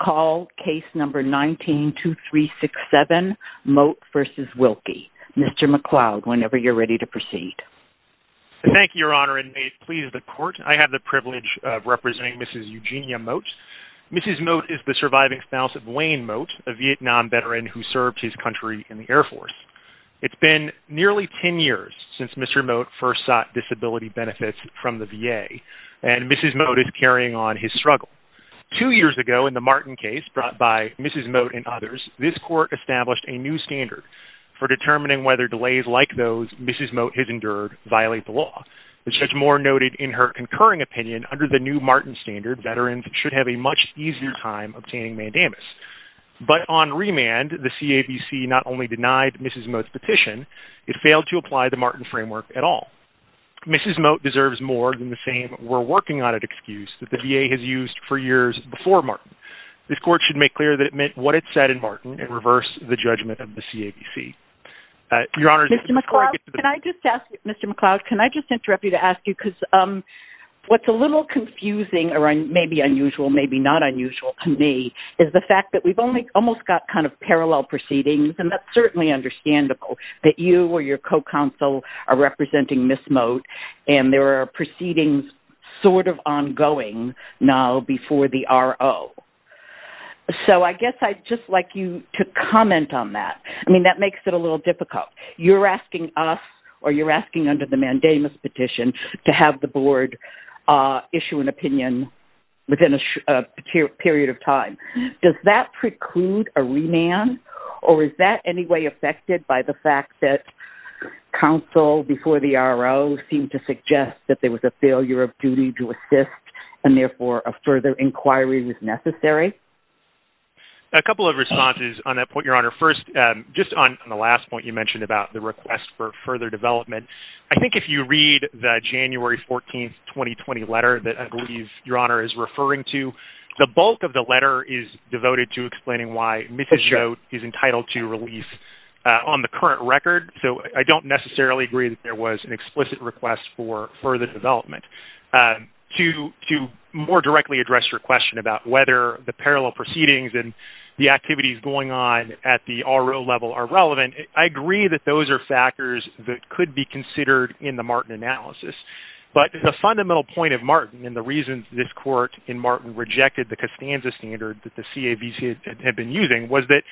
Mr. Mote is the surviving spouse of Wayne Mote, a Vietnam veteran who served his country in the Air Force. It has been nearly 10 years since Mr. Mote first sought disability benefits from the VA, and Mrs. Mote is carrying on his struggle. Two years ago in the Martin case brought by Mrs. Mote and others, this court established a new standard for determining whether delays like those Mrs. Mote has endured violate the law. As Judge Moore noted in her concurring opinion, under the new Martin standard, veterans should have a much easier time obtaining mandamus. But on remand, the CABC not only denied Mrs. Mote's petition, it failed to apply the Martin framework at all. Mrs. Mote deserves more than the same we're-working-on-it excuse that the VA has used for years before Martin. This court should make clear that it meant what it said in Martin and reverse the judgment of the CABC. Your Honor- Mr. McLeod, can I just ask- Mr. McLeod, can I just interrupt you to ask you, because what's a little confusing, or maybe unusual, maybe not unusual to me, is the fact that we've only almost got kind of parallel proceedings, and that's certainly understandable, that you or your co-counsel are representing Mrs. Mote, and there are proceedings sort of ongoing now before the RO. So I guess I'd just like you to comment on that. I mean, that makes it a little difficult. You're asking us, or you're asking under the mandamus petition, to have the board issue an opinion within a period of time. Does that preclude a remand, or is that any way affected by the fact that counsel before the RO seemed to suggest that there was a failure of duty to assist, and therefore a further inquiry was necessary? A couple of responses on that point, Your Honor. First, just on the last point you mentioned about the request for further development, I think if you read the January 14, 2020 letter that I believe Your Honor is referring to, the bulk of the letter is devoted to explaining why Mrs. Mote is entitled to release on the current record. So I don't necessarily agree that there was an explicit request for further development. To more directly address your question about whether the parallel proceedings and the activities going on at the RO level are relevant, I agree that those are factors that could be considered in the Martin analysis. But the fundamental point of Martin, and the reason this court in Martin rejected the Costanza standard that the CAVC had been using, was that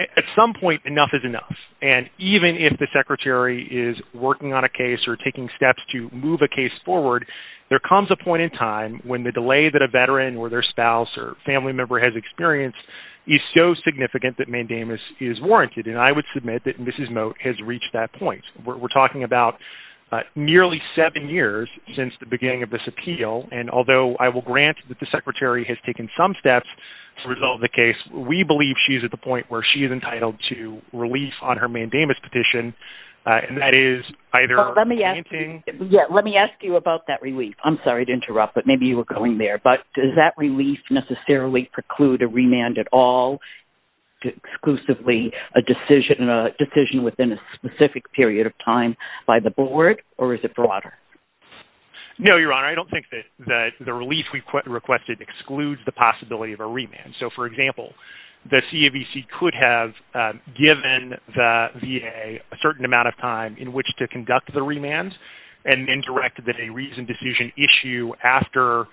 at some point enough is enough. And even if the secretary is working on a case or taking steps to move a case forward, there comes a point in time when the delay that a veteran or their spouse or family member has experienced is so significant that mandamus is warranted. And I would submit that Mrs. Mote has reached that point. We're talking about nearly seven years since the beginning of this appeal. And although I will grant that the secretary has taken some steps to resolve the case, we believe she's at the point where she is entitled to release on her mandamus petition. And that is either granting... Let me ask you about that relief. I'm sorry to interrupt, but maybe you were going there. But does that relief necessarily preclude a remand at all, exclusively a decision within a specific period of time by the board? Or is it broader? No, Your Honor, I don't think that the release we've requested excludes the possibility of a remand. So, for example, the CAVC could have given the VA a certain amount of time in which to conduct the remand and then directed that a reasoned decision issue after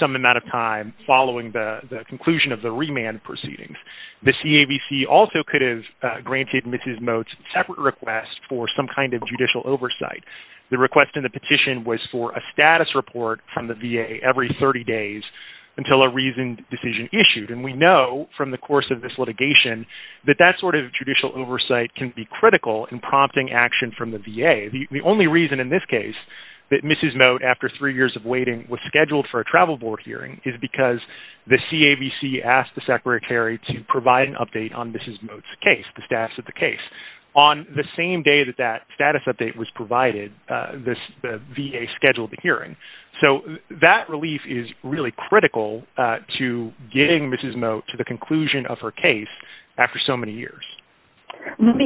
some amount of time following the conclusion of the remand proceedings. The CAVC also could have granted Mrs. Mote's separate request for some kind of judicial oversight. The request in the petition was for a status report from the VA every 30 days until a reasoned decision issued. And we know from the course of this litigation that that sort of judicial oversight can be critical in prompting action from the VA. The only reason in this case that Mrs. Mote, after three years of waiting, was scheduled for a travel board hearing is because the CAVC asked the Secretary Kerry to provide an update on Mrs. Mote's case, the status of the case. On the same day that that status update was provided, the VA scheduled the hearing. So that relief is really critical to getting Mrs. Mote to the conclusion of her case after so many years. Let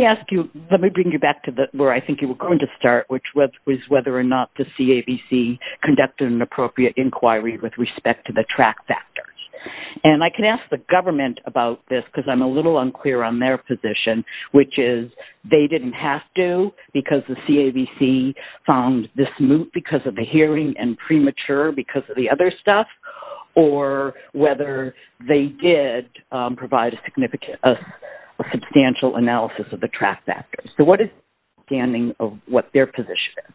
me bring you back to where I think you were going to start, which was whether or not the CAVC conducted an appropriate inquiry with respect to the track factors. And I can ask the government about this because I'm a little unclear on their position, which is, they didn't have to because the CAVC found this moot because of the hearing and premature because of the other stuff, or whether they did provide a substantial analysis of the track factors. So what is your understanding of what their position is?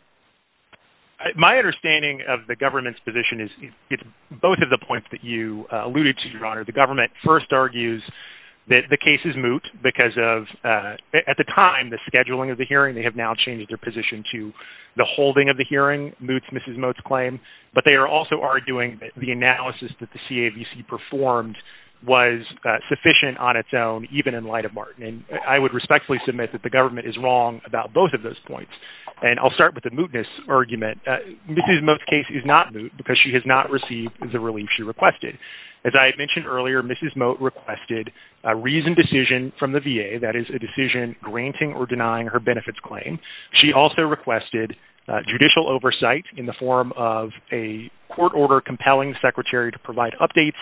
My understanding of the government's position is both of the points that you alluded to, Your Honor. The government first argues that the case is moot because of, at the time, the scheduling of the hearing. They have now changed their position to the holding of the hearing moots Mrs. Mote's claim, but they are also arguing that the analysis that the CAVC performed was sufficient on its own, even in light of Martin. And I would respectfully submit that the government is wrong about both of those points. And I'll start with the mootness argument. Mrs. Mote's case is not moot because she has not received the relief she requested. As I had mentioned earlier, Mrs. Mote requested a reasoned decision from the VA. That is a decision granting or denying her benefits claim. She also requested judicial oversight in the form of a court order compelling the secretary to provide updates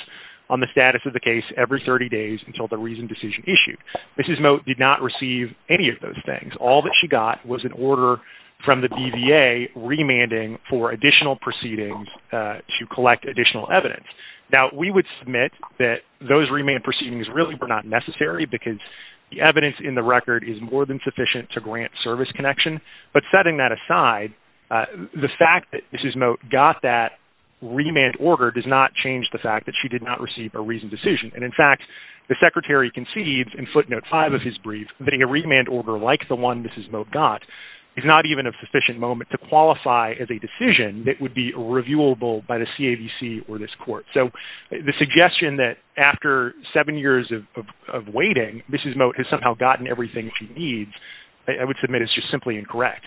on the status of the case every 30 days until the reasoned decision issued. Mrs. Mote did not receive any of those things. All that she got was an order from the BVA remanding for additional proceedings to collect additional evidence. Now, we would submit that those remand proceedings really were not necessary because the evidence in the record is more than sufficient to grant service connection. But setting that aside, the fact that Mrs. Mote got that remand order does not change the fact that she did not receive a reasoned decision. And in fact, the secretary concedes in footnote five of his brief that a remand order like the one Mrs. Mote got is not even a sufficient moment to qualify as a decision that would be reviewable by the CAVC or this court. So the suggestion that after seven years of waiting, Mrs. Mote has somehow gotten everything she needs, I would submit is just simply incorrect.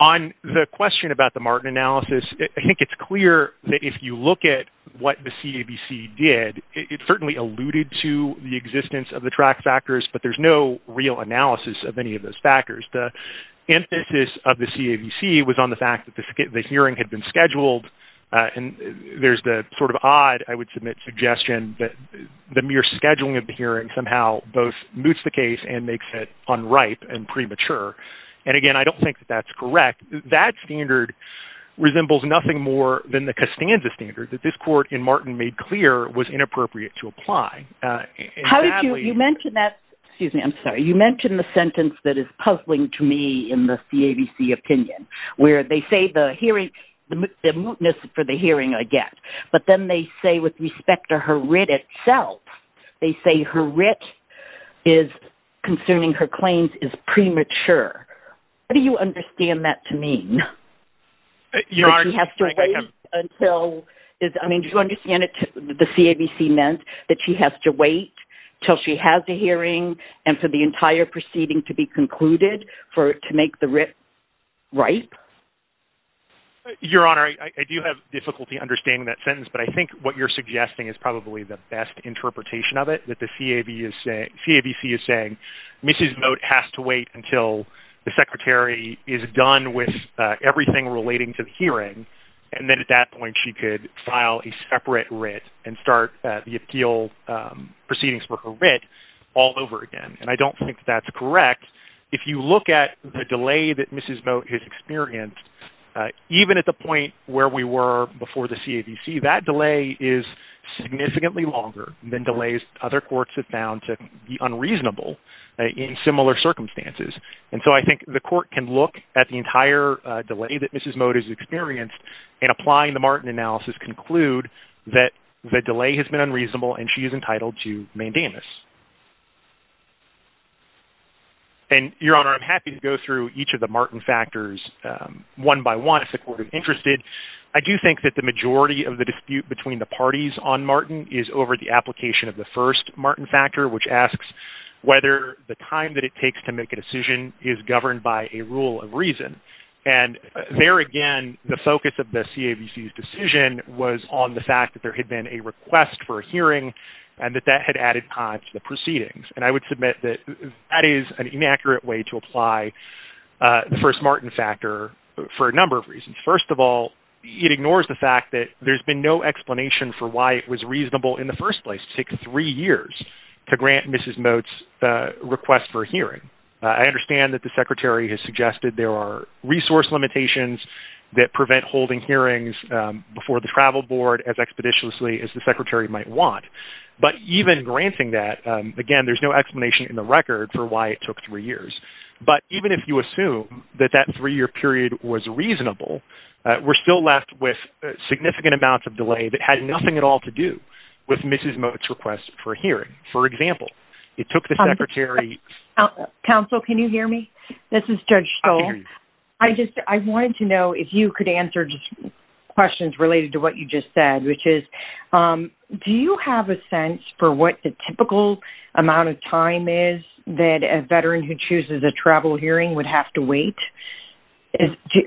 On the question about the Martin analysis, I think it's clear that if you look at what the CAVC did, it certainly alluded to the existence of the track factors, but there's no real analysis of any of those factors. The emphasis of the CAVC was on the fact that the hearing had been scheduled. And there's the sort of odd, I would submit, suggestion that the mere scheduling of the hearing somehow both moots the case and makes it unripe and premature. And again, I don't think that that's correct. That standard resembles nothing more than the Costanza standard that this court in Martin made clear was inappropriate to apply. How did you, you mentioned that, excuse me, I'm sorry. You mentioned the sentence that is puzzling to me in the CAVC opinion, where they say the hearing, the mootness for the hearing I get, but then they say with respect to her writ itself, they say her writ is concerning her claims is premature. What do you understand that to mean? You have to wait until, I mean, do you understand it, the CAVC meant that she has to wait till she has the hearing and for the entire proceeding to be concluded for it to make the writ ripe? Your Honor, I do have difficulty understanding that sentence, but I think what you're suggesting is probably the best interpretation of it, that the CAVC is saying, Mrs. Moat has to file relating to the hearing, and then at that point she could file a separate writ and start the appeal proceedings for her writ all over again. And I don't think that that's correct. If you look at the delay that Mrs. Moat has experienced, even at the point where we were before the CAVC, that delay is significantly longer than delays other courts have found to be unreasonable in similar circumstances. And so I think the court can look at the entire delay that Mrs. Moat has experienced and applying the Martin analysis conclude that the delay has been unreasonable and she is entitled to mandamus. And Your Honor, I'm happy to go through each of the Martin factors one by one if the court is interested. I do think that the majority of the dispute between the parties on Martin is over the application of the first Martin factor, which asks whether the time that it takes to make a decision is governed by a rule of reason. And there again, the focus of the CAVC's decision was on the fact that there had been a request for a hearing and that that had added time to the proceedings. And I would submit that that is an inaccurate way to apply the first Martin factor for a number of reasons. First of all, it ignores the fact that there's been no explanation for why it was reasonable in the first place to take three years to grant Mrs. Moat's request for a hearing. I understand that the secretary has suggested there are resource limitations that prevent holding hearings before the travel board as expeditiously as the secretary might want. But even granting that again, there's no explanation in the record for why it took three years. But even if you assume that that three year period was reasonable, we're still left with Mrs. Moat's request for a hearing. For example, it took the secretary... Counsel, can you hear me? This is Judge Stoll. I just, I wanted to know if you could answer just questions related to what you just said, which is, do you have a sense for what the typical amount of time is that a veteran who chooses a travel hearing would have to wait?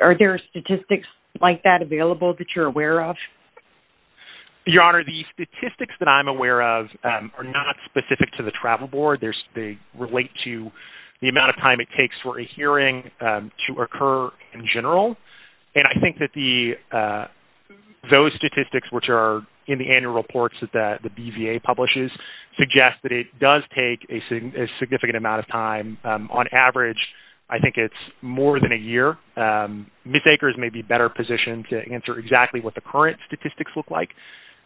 Are there statistics like that available that you're aware of? Your Honor, the statistics that I'm aware of are not specific to the travel board. They relate to the amount of time it takes for a hearing to occur in general. And I think that those statistics, which are in the annual reports that the BVA publishes, suggest that it does take a significant amount of time. On average, I think it's more than a year. Mistakers may be better positioned to answer exactly what the current statistics look like.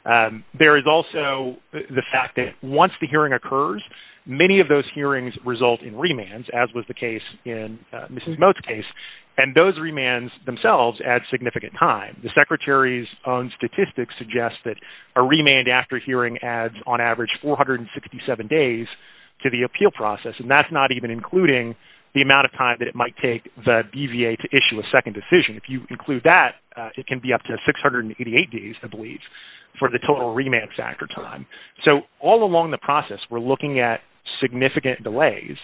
There is also the fact that once the hearing occurs, many of those hearings result in remands, as was the case in Mrs. Moat's case. And those remands themselves add significant time. The secretary's own statistics suggest that a remand after hearing adds on average 467 days to the appeal process. And that's not even including the amount of time that it might take the BVA to issue a second decision. If you include that, it can be up to 688 days, I believe, for the total remand factor time. So all along the process, we're looking at significant delays.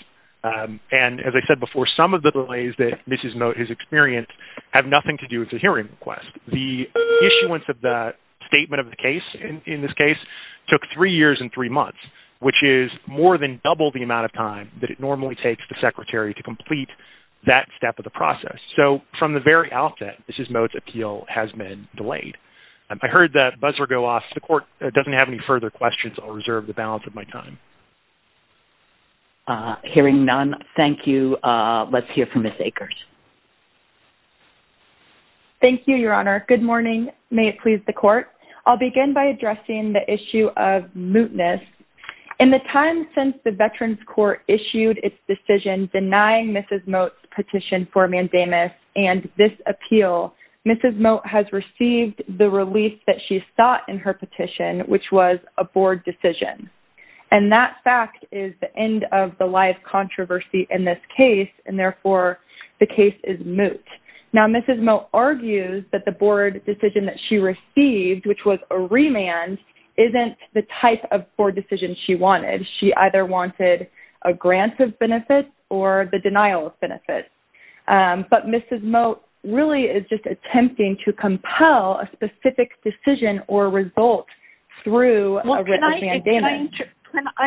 And as I said before, some of the delays that Mrs. Moat has experienced have nothing to do with the hearing request. The issuance of the statement of the case, in this case, took three years and three months, which is more than double the amount of time that it normally takes the secretary to complete that step of the process. So from the very outset, Mrs. Moat's appeal has been delayed. I heard that buzzer go off. The court doesn't have any further questions. I'll reserve the balance of my time. Hearing none. Thank you. Let's hear from Ms. Akers. Thank you, Your Honor. Good morning. May it please the court. I'll begin by addressing the issue of mootness. In the time since the Veterans Court issued its decision denying Mrs. Moat's petition for mandamus and this appeal, Mrs. Moat has received the relief that she sought in her petition, which was a board decision. And that fact is the end of the live controversy in this case, and therefore, the case is moot. Now, Mrs. Moat argues that the board decision that she received, which was a remand, isn't the type of board decision she wanted. She either wanted a grant of benefits or the denial of benefits. But Mrs. Moat really is just attempting to compel a specific decision or result through a remand. Well,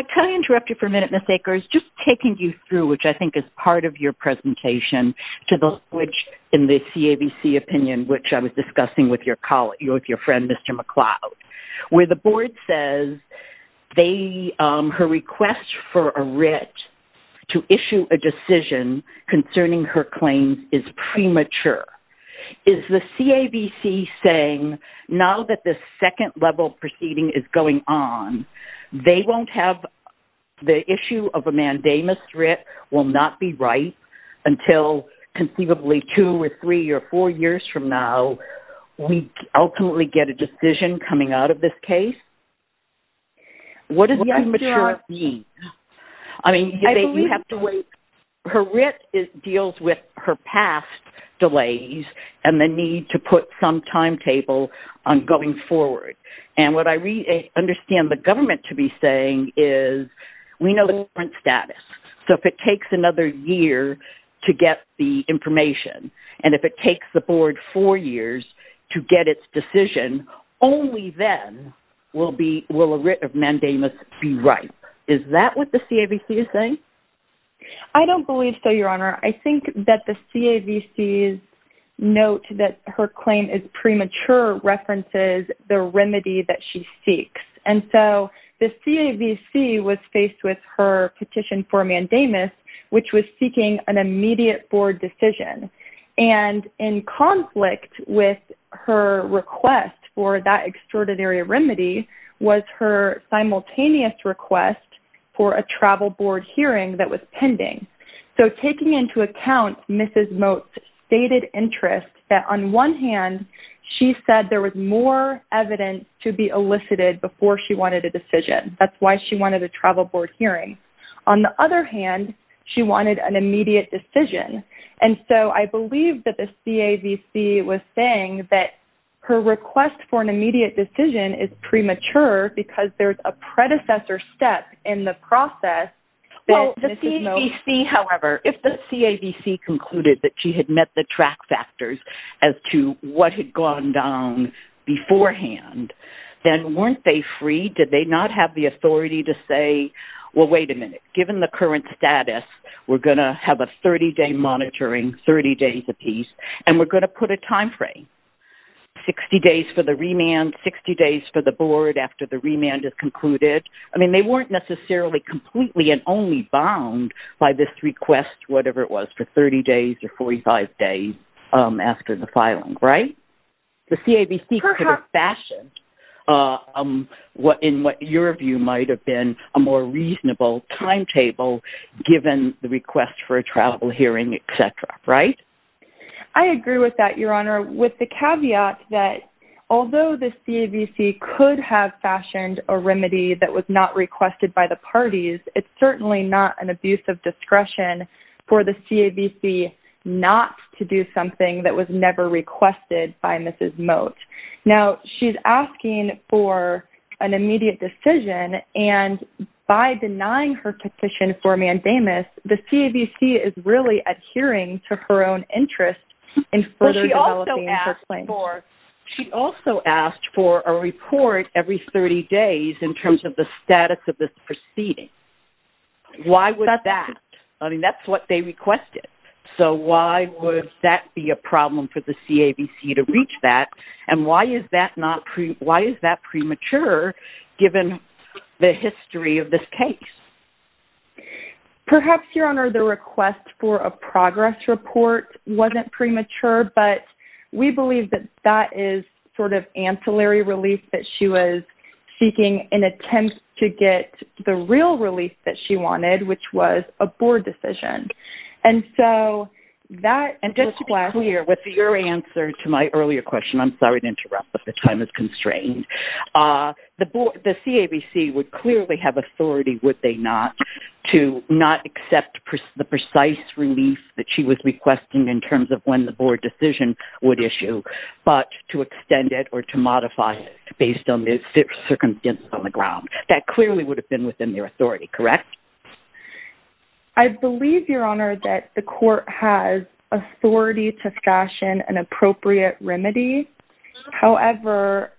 can I interrupt you for a minute, Ms. Akers, just taking you through, which I think is part of your presentation, to the switch in the CAVC opinion, which I was discussing with your friend, Mr. McCloud, where the board says her request for a writ to issue a decision concerning her claims is premature. Is the CAVC saying, now that this second level proceeding is going on, they won't have the copyright until conceivably two or three or four years from now, we ultimately get a decision coming out of this case? What does premature mean? I mean, you have to wait. Her writ deals with her past delays and the need to put some timetable on going forward. And what I understand the government to be saying is, we know the current status. So if it takes another year to get the information, and if it takes the board four years to get its decision, only then will a writ of mandamus be ripe. Is that what the CAVC is saying? I don't believe so, Your Honor. I think that the CAVC's note that her claim is premature references the remedy that she seeks. And so the CAVC was faced with her petition for a mandamus, which was seeking an immediate board decision. And in conflict with her request for that extraordinary remedy was her simultaneous request for a travel board hearing that was pending. So taking into account Mrs. Moate's stated interest that on one hand, she said there was more evidence to be elicited before she wanted a decision. That's why she wanted a travel board hearing. On the other hand, she wanted an immediate decision. And so I believe that the CAVC was saying that her request for an immediate decision is premature because there's a predecessor step in the process that Mrs. Moate... Well, the CAVC, however, if the CAVC concluded that she had met the track factors as to what had gone down beforehand, then weren't they free? Did they not have the authority to say, well, wait a minute, given the current status, we're going to have a 30-day monitoring, 30 days apiece, and we're going to put a time frame, 60 days for the remand, 60 days for the board after the remand is concluded. I mean, they weren't necessarily completely and only bound by this request, whatever it was, for 30 days or 45 days after the filing, right? The CAVC could have fashioned in what your view might have been a more reasonable timetable given the request for a travel hearing, et cetera, right? I agree with that, Your Honor, with the caveat that although the CAVC could have fashioned a remedy that was not requested by the parties, it's certainly not an abuse of discretion for the CAVC not to do something that was never requested by Mrs. Moat. Now, she's asking for an immediate decision, and by denying her petition for mandamus, the CAVC is really adhering to her own interest in further developing her claim. She also asked for a report every 30 days in terms of the status of this proceeding. Why would that? I mean, that's what they requested. So why would that be a problem for the CAVC to reach that, and why is that premature given the history of this case? Perhaps, Your Honor, the request for a progress report wasn't premature, but we believe that that is sort of ancillary relief that she was seeking in attempt to get the real relief that she wanted, which was a board decision. And so that... And just to be clear, with your answer to my earlier question, I'm sorry to interrupt, but the time is constrained, the CAVC would clearly have authority, would they not, to not accept the precise relief that she was requesting in terms of when the board decision would issue, but to extend it or to modify it based on the circumstances on the ground. That clearly would have been within their authority, correct? I believe, Your Honor, that the court has authority to fashion an appropriate remedy. However,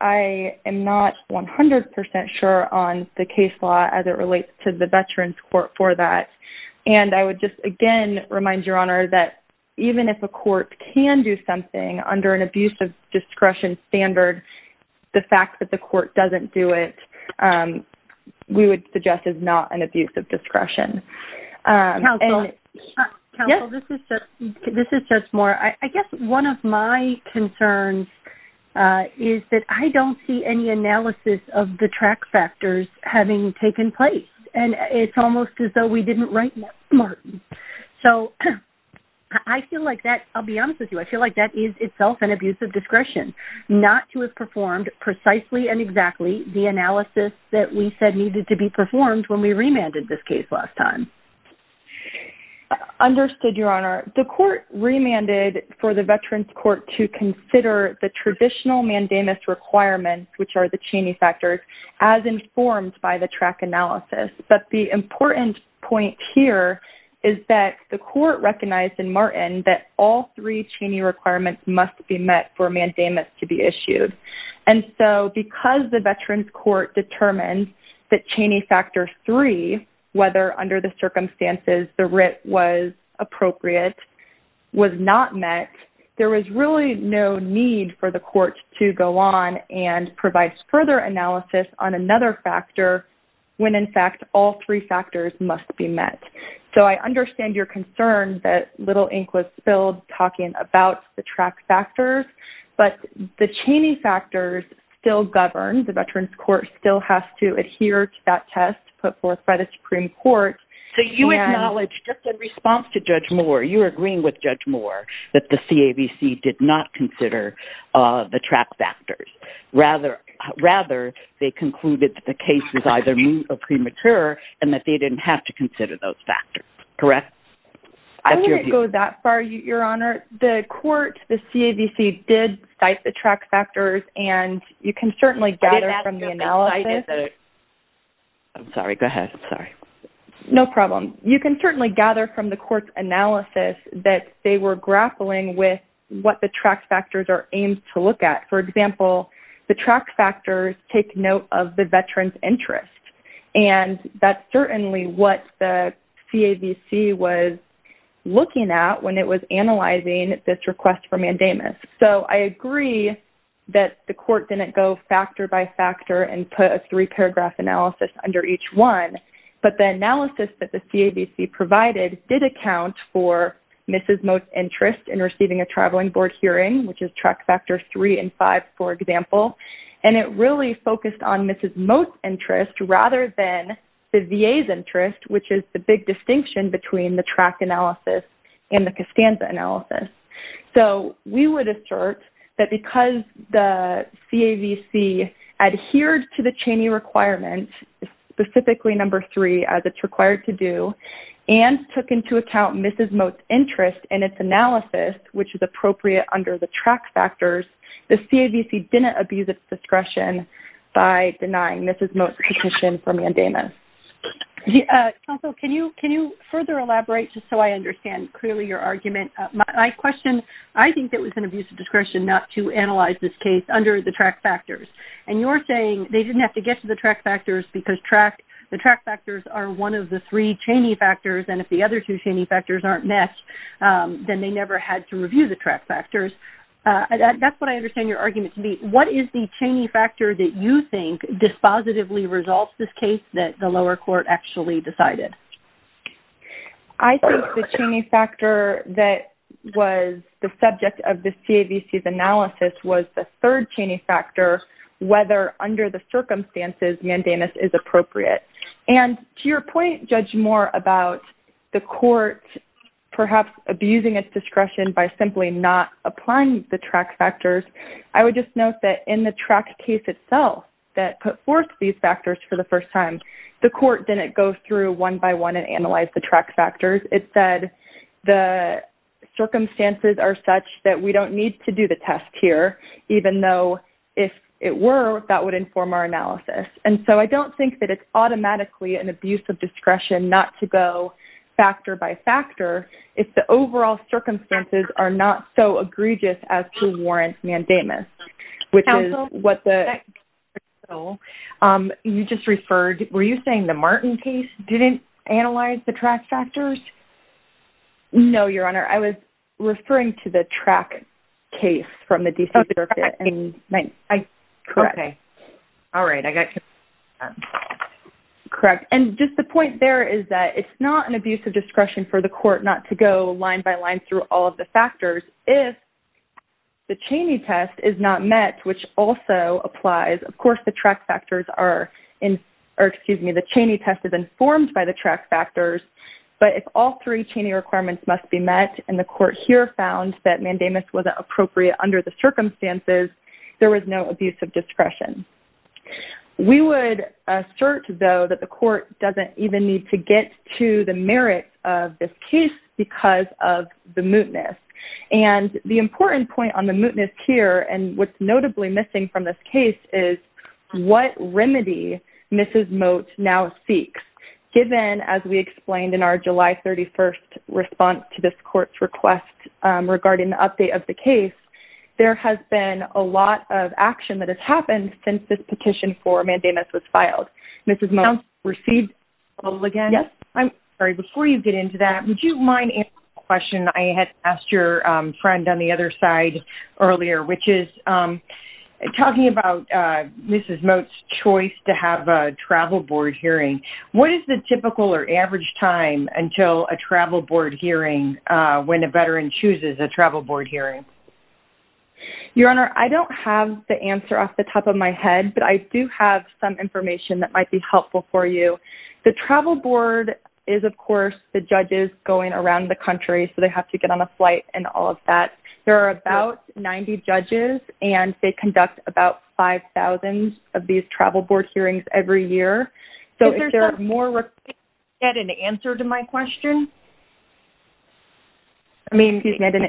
I am not 100% sure on the case law as it relates to the Veterans Court for that. And I would just again remind Your Honor that even if a court can do something under an abusive discretion standard, the fact that the court doesn't do it, we would suggest is not an abusive discretion. Counsel? Yes? Counsel, this is Judge Moore. I guess one of my concerns is that I don't see any analysis of the track factors having taken place. And it's almost as though we didn't write Martin. So, I feel like that, I'll be honest with you, I feel like that is itself an abusive discretion not to have performed precisely and exactly the analysis that we said needed to be performed when we remanded this case last time. Understood, Your Honor. The court remanded for the Veterans Court to consider the traditional mandamus requirements, which are the Cheney factors, as informed by the track analysis. But the important point here is that the court recognized in Martin that all three Cheney requirements must be met for a mandamus to be issued. And so, because the Veterans Court determined that Cheney factor three, whether under the circumstances the writ was appropriate, was not met, there was really no need for the all three factors must be met. So, I understand your concern that little ink was spilled talking about the track factors, but the Cheney factors still govern. The Veterans Court still has to adhere to that test put forth by the Supreme Court. So, you acknowledged just in response to Judge Moore, you're agreeing with Judge Moore that the CAVC did not consider the track factors. Rather, they concluded that the case was either new or premature and that they didn't have to consider those factors, correct? I wouldn't go that far, Your Honor. The court, the CAVC, did cite the track factors, and you can certainly gather from the analysis. I'm sorry, go ahead, I'm sorry. No problem. You can certainly gather from the court's analysis that they were grappling with what the track factors are aimed to look at. For example, the track factors take note of the veteran's interest, and that's certainly what the CAVC was looking at when it was analyzing this request for mandamus. So, I agree that the court didn't go factor by factor and put a three-paragraph analysis under each one, but the analysis that the CAVC provided did account for Mrs. Moe's interest in receiving a traveling board hearing, which is track factors three and five, for example, and it really focused on Mrs. Moe's interest rather than the VA's interest, which is the big distinction between the track analysis and the Costanza analysis. So, we would assert that because the CAVC adhered to the Cheney requirement, specifically number three, as it's required to do, and took into account Mrs. Moe's interest in its analysis, which is appropriate under the track factors, the CAVC didn't abuse its discretion by denying Mrs. Moe's petition for mandamus. Counsel, can you further elaborate just so I understand clearly your argument? My question, I think that it was an abuse of discretion not to analyze this case under the track factors, and you're saying they didn't have to get to the track factors because the track factors are one of the three Cheney factors, and if the other two Cheney factors aren't met, then they never had to review the track factors. That's what I understand your argument to be. What is the Cheney factor that you think dispositively resolves this case that the lower court actually decided? I think the Cheney factor that was the subject of the CAVC's analysis was the third Cheney factor, whether under the circumstances mandamus is appropriate. To your point, Judge Moore, about the court perhaps abusing its discretion by simply not applying the track factors, I would just note that in the track case itself that put forth these factors for the first time, the court didn't go through one by one and analyze the track factors. It said the circumstances are such that we don't need to do the test here, even though if it were, that would inform our analysis. And so I don't think that it's automatically an abuse of discretion not to go factor by factor if the overall circumstances are not so egregious as to warrant mandamus, which is what the… Counsel, you just referred… Were you saying the Martin case didn't analyze the track factors? No, Your Honor. I was referring to the track case from the D.C. Circuit. Oh, the track case. Okay. All right. I got you. Correct. And just the point there is that it's not an abuse of discretion for the court not to go line by line through all of the factors if the Cheney test is not met, which also applies. Of course, the track factors are in… Or, excuse me, the Cheney test is informed by the track factors, but if all three Cheney requirements must be met and the court here found that mandamus wasn't appropriate under the circumstances, there was no abuse of discretion. We would assert, though, that the court doesn't even need to get to the merits of this case because of the mootness. And the important point on the mootness here and what's notably missing from this case is what remedy Mrs. Moat now seeks. Given, as we explained in our July 31st response to this court's request regarding the update of the case, there has been a lot of action that has happened since this petition for mandamus was filed. Mrs. Moat, you received a call again? Yes. I'm sorry. Before you get into that, would you mind answering a question I had asked your friend on the Mrs. Moat's choice to have a travel board hearing? What is the typical or average time until a travel board hearing when a veteran chooses a travel board hearing? Your Honor, I don't have the answer off the top of my head, but I do have some information that might be helpful for you. The travel board is, of course, the judges going around the country, so they have to get on a flight and all of that. There are about 90 judges, and they conduct about 5,000 of these travel board hearings every year. So, if there are more requests, can you get an answer to my question? I mean, if you can get an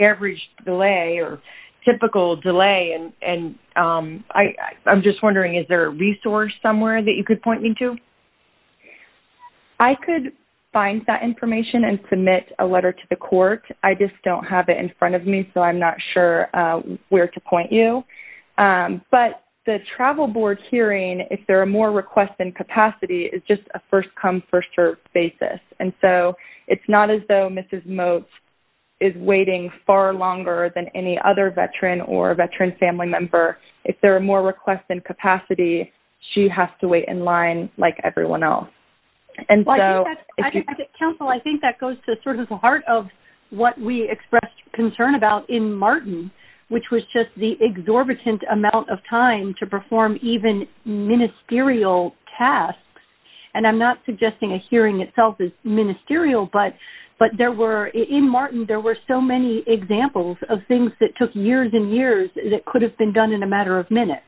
average delay or typical delay, and I'm just wondering, is there a resource somewhere that you could point me to? I could find that information and submit a letter to the court. I just don't have it in front of me, so I'm not sure where to point you. But the travel board hearing, if there are more requests than capacity, is just a first come, first served basis. And so, it's not as though Mrs. Moat is waiting far longer than any other veteran or veteran family member. If there are more requests than capacity, she has to wait in line like everyone else. And so, if you could- Counsel, I think that goes to sort of the heart of what we expressed concern about in Martin, which was just the exorbitant amount of time to perform even ministerial tasks. And I'm not suggesting a hearing itself is ministerial, but in Martin, there were so many examples of things that took years and years that could have been done in a matter of minutes.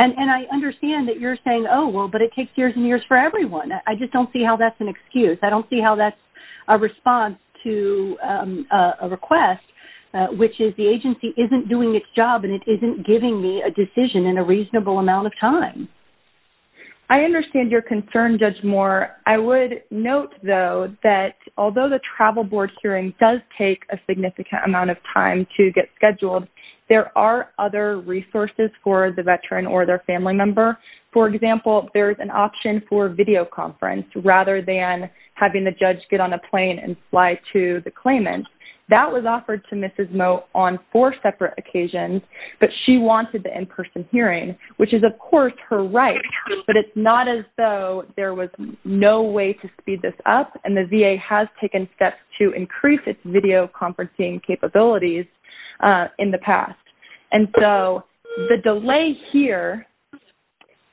And I understand that you're saying, oh, well, but it takes years and years for everyone. I just don't see how that's an excuse. I don't see how that's a response to a request, which is the agency isn't doing its job and it isn't giving me a decision in a reasonable amount of time. I understand your concern, Judge Moore. I would note, though, that although the travel board hearing does take a significant amount of time to get scheduled, there are other resources for the veteran or their family member. For example, there's an option for video conference rather than having the judge get on a plane and fly to the claimant. That was offered to Mrs. Moe on four separate occasions, but she wanted the in-person hearing, which is, of course, her right. But it's not as though there was no way to speed this up. And the VA has taken steps to increase its video conferencing capabilities in the past. And so the delay here,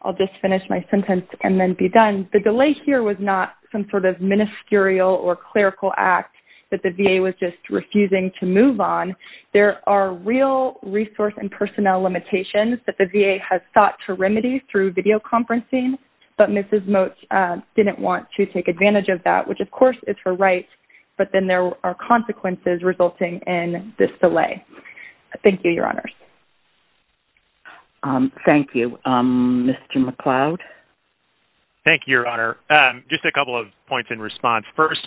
I'll just finish my sentence and then be done. The delay here was not some sort of ministerial or clerical act that the VA was just refusing to move on. There are real resource and personnel limitations that the VA has sought to remedy through video conferencing, but Mrs. Moe didn't want to take advantage of that, which, of course, is her right. But then there are consequences resulting in this delay. Thank you, Your Honors. Thank you. Mr. McLeod? Thank you, Your Honor. Just a couple of points in response. First,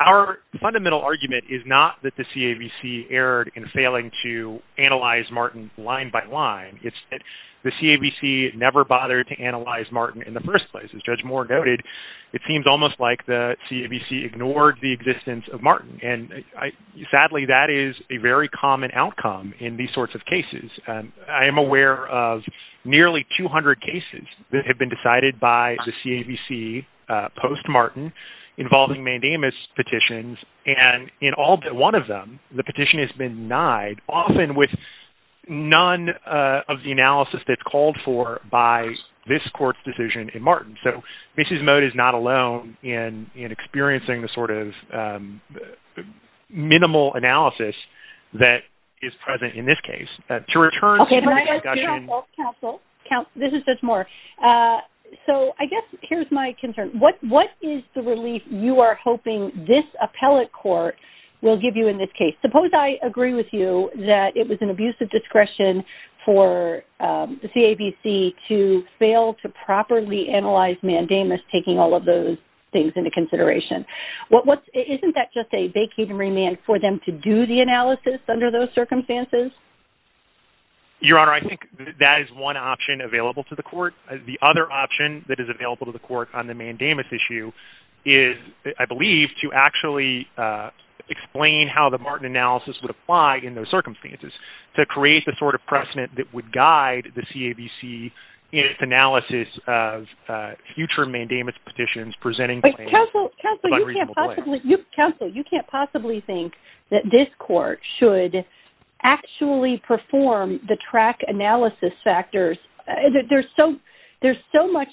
our fundamental argument is not that the CAVC erred in failing to analyze Martin line by line. It's that the CAVC never bothered to analyze Martin in the first place. As Judge Moore noted, it seems almost like the CAVC ignored the existence of Martin. And sadly, that is a very common outcome in these sorts of cases. I am aware of nearly 200 cases that have been decided by the CAVC post-Martin involving mandamus petitions. And in all but one of them, the petition has been denied, often with none of the analysis that's called for by this court's decision in Martin. So, Mrs. Mode is not alone in experiencing the sort of minimal analysis that is present in this case. To return to the discussion... Okay, counsel, counsel, counsel. This is Judge Moore. So, I guess here's my concern. What is the relief you are hoping this appellate court will give you in this case? Suppose I agree with you that it was an abuse of discretion for the CAVC to fail to properly analyze mandamus, taking all of those things into consideration. Isn't that just a vacated remand for them to do the analysis under those circumstances? Your Honor, I think that is one option available to the court. The other option that is available to the court on the mandamus issue is, I believe, to actually explain how the Martin analysis would apply in those circumstances, to create the sort of precedent that would guide the CAVC in its analysis of future mandamus petitions presenting claims of unreasonable blame. Counsel, you can't possibly think that this court should actually perform the track analysis factors. There's so much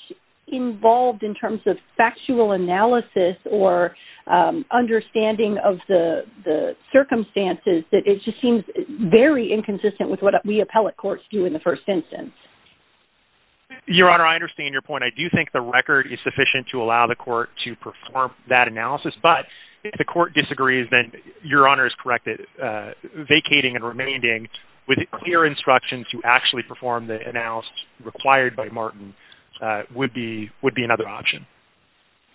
involved in terms of factual analysis or understanding of the circumstances that it just seems very inconsistent with what we appellate courts do in the first instance. Your Honor, I understand your point. I do think the record is sufficient to allow the court to perform that analysis. But if the court disagrees, then Your Honor is correct that vacating and remanding with clear instructions to actually perform the analysis required by Martin would be another option.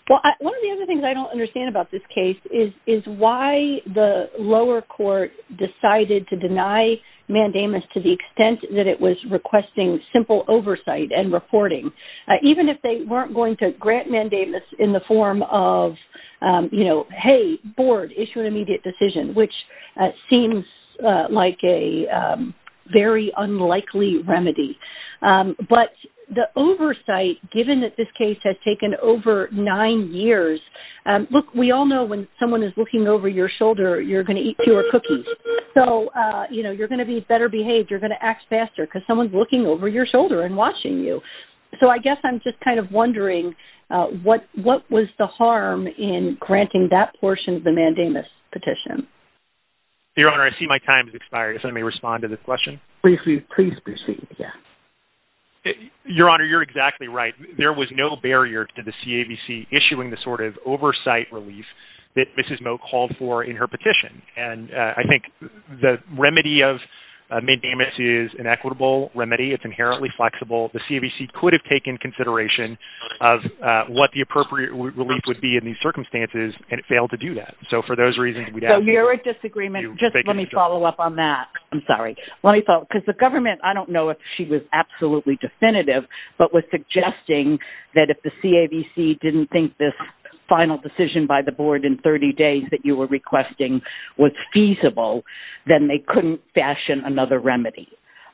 Well, one of the other things I don't understand about this case is why the lower court decided to deny mandamus to the extent that it was requesting simple oversight and reporting, even if they weren't going to grant mandamus in the form of, you know, hey, board, issue an immediate decision, which seems like a very unlikely remedy. But the oversight, given that this case has taken over nine years, look, we all know when someone is looking over your shoulder, you're going to eat fewer cookies. So, you know, you're going to be better behaved. You're going to act faster because someone's looking over your shoulder and watching you. So I guess I'm just kind of wondering what was the harm in granting that portion of the mandamus petition? Your Honor, I see my time has expired. If I may respond to this question. Please proceed. Yes. Your Honor, you're exactly right. There was no barrier to the CABC issuing the sort of oversight relief that Mrs. Moak called for in her petition. And I think the remedy of mandamus is an equitable remedy. It's inherently flexible. The CABC could have taken consideration of what the appropriate relief would be in these circumstances, and it failed to do that. So for those reasons, we'd have to... So you're at disagreement. Just let me follow up on that. I'm sorry. Let me follow up because the government, I don't know if she was absolutely definitive, but was suggesting that if the CABC didn't think this final decision by the board in 30 days that you were requesting was feasible, then they couldn't fashion another remedy.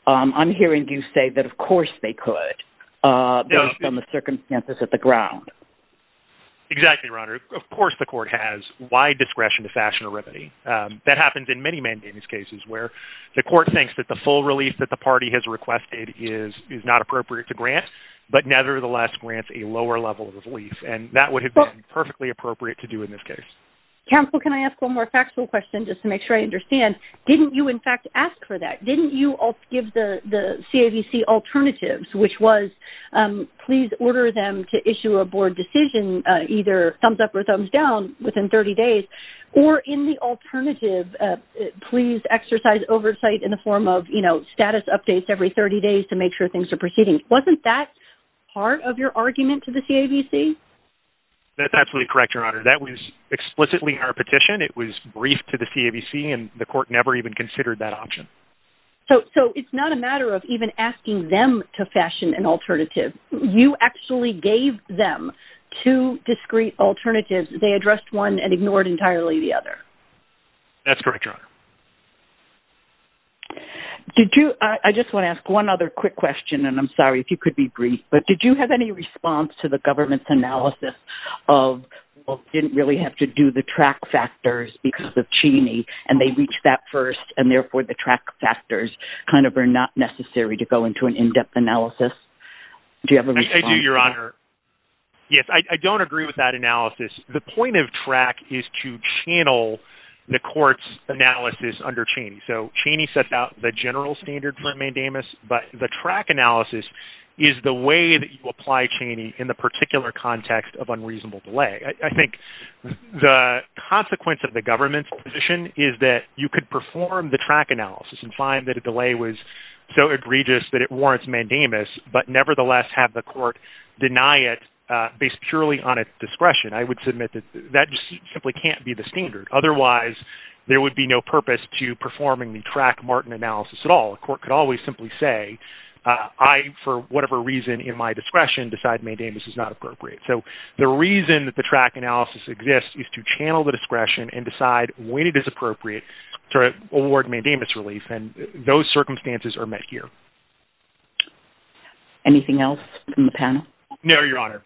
I'm hearing you say that, of course, they could based on the circumstances at the ground. Exactly, Your Honor. Of course, the court has wide discretion to fashion a remedy. That happens in many mandamus cases where the court thinks that the full relief that grants, but nevertheless grants a lower level of relief. And that would have been perfectly appropriate to do in this case. Counsel, can I ask one more factual question just to make sure I understand? Didn't you, in fact, ask for that? Didn't you give the CABC alternatives, which was, please order them to issue a board decision, either thumbs up or thumbs down within 30 days, or in the alternative, please exercise oversight in the form of, you know, status updates every 30 days to make sure things are proceeding? Wasn't that part of your argument to the CABC? That's absolutely correct, Your Honor. That was explicitly our petition. It was briefed to the CABC, and the court never even considered that option. So it's not a matter of even asking them to fashion an alternative. You actually gave them two discrete alternatives. That's correct, Your Honor. Did you, I just want to ask one other quick question, and I'm sorry if you could be briefed, but did you have any response to the government's analysis of, well, didn't really have to do the track factors because of Cheney, and they reached that first, and therefore the track factors kind of are not necessary to go into an in-depth analysis? Do you have a response? I do, Your Honor. Yes, I don't agree with that analysis. The point of track is to channel the court's analysis under Cheney. So Cheney sets out the general standard for mandamus, but the track analysis is the way that you apply Cheney in the particular context of unreasonable delay. I think the consequence of the government's position is that you could perform the track analysis and find that a delay was so egregious that it warrants mandamus, but nevertheless have the court deny it based purely on its discretion. I would submit that that just simply can't be the standard. Otherwise, there would be no purpose to performing the track Martin analysis at all. A court could always simply say, I, for whatever reason in my discretion, decide mandamus is not appropriate. So the reason that the track analysis exists is to channel the discretion and decide when it is appropriate to award mandamus relief, and those circumstances are met here. Anything else from the panel? No, Your Honor.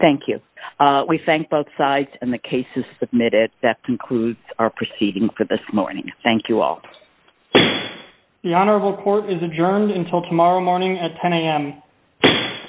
Thank you. We thank both sides and the cases submitted. That concludes our proceeding for this morning. Thank you all. The honorable court is adjourned until tomorrow morning at 10 a.m.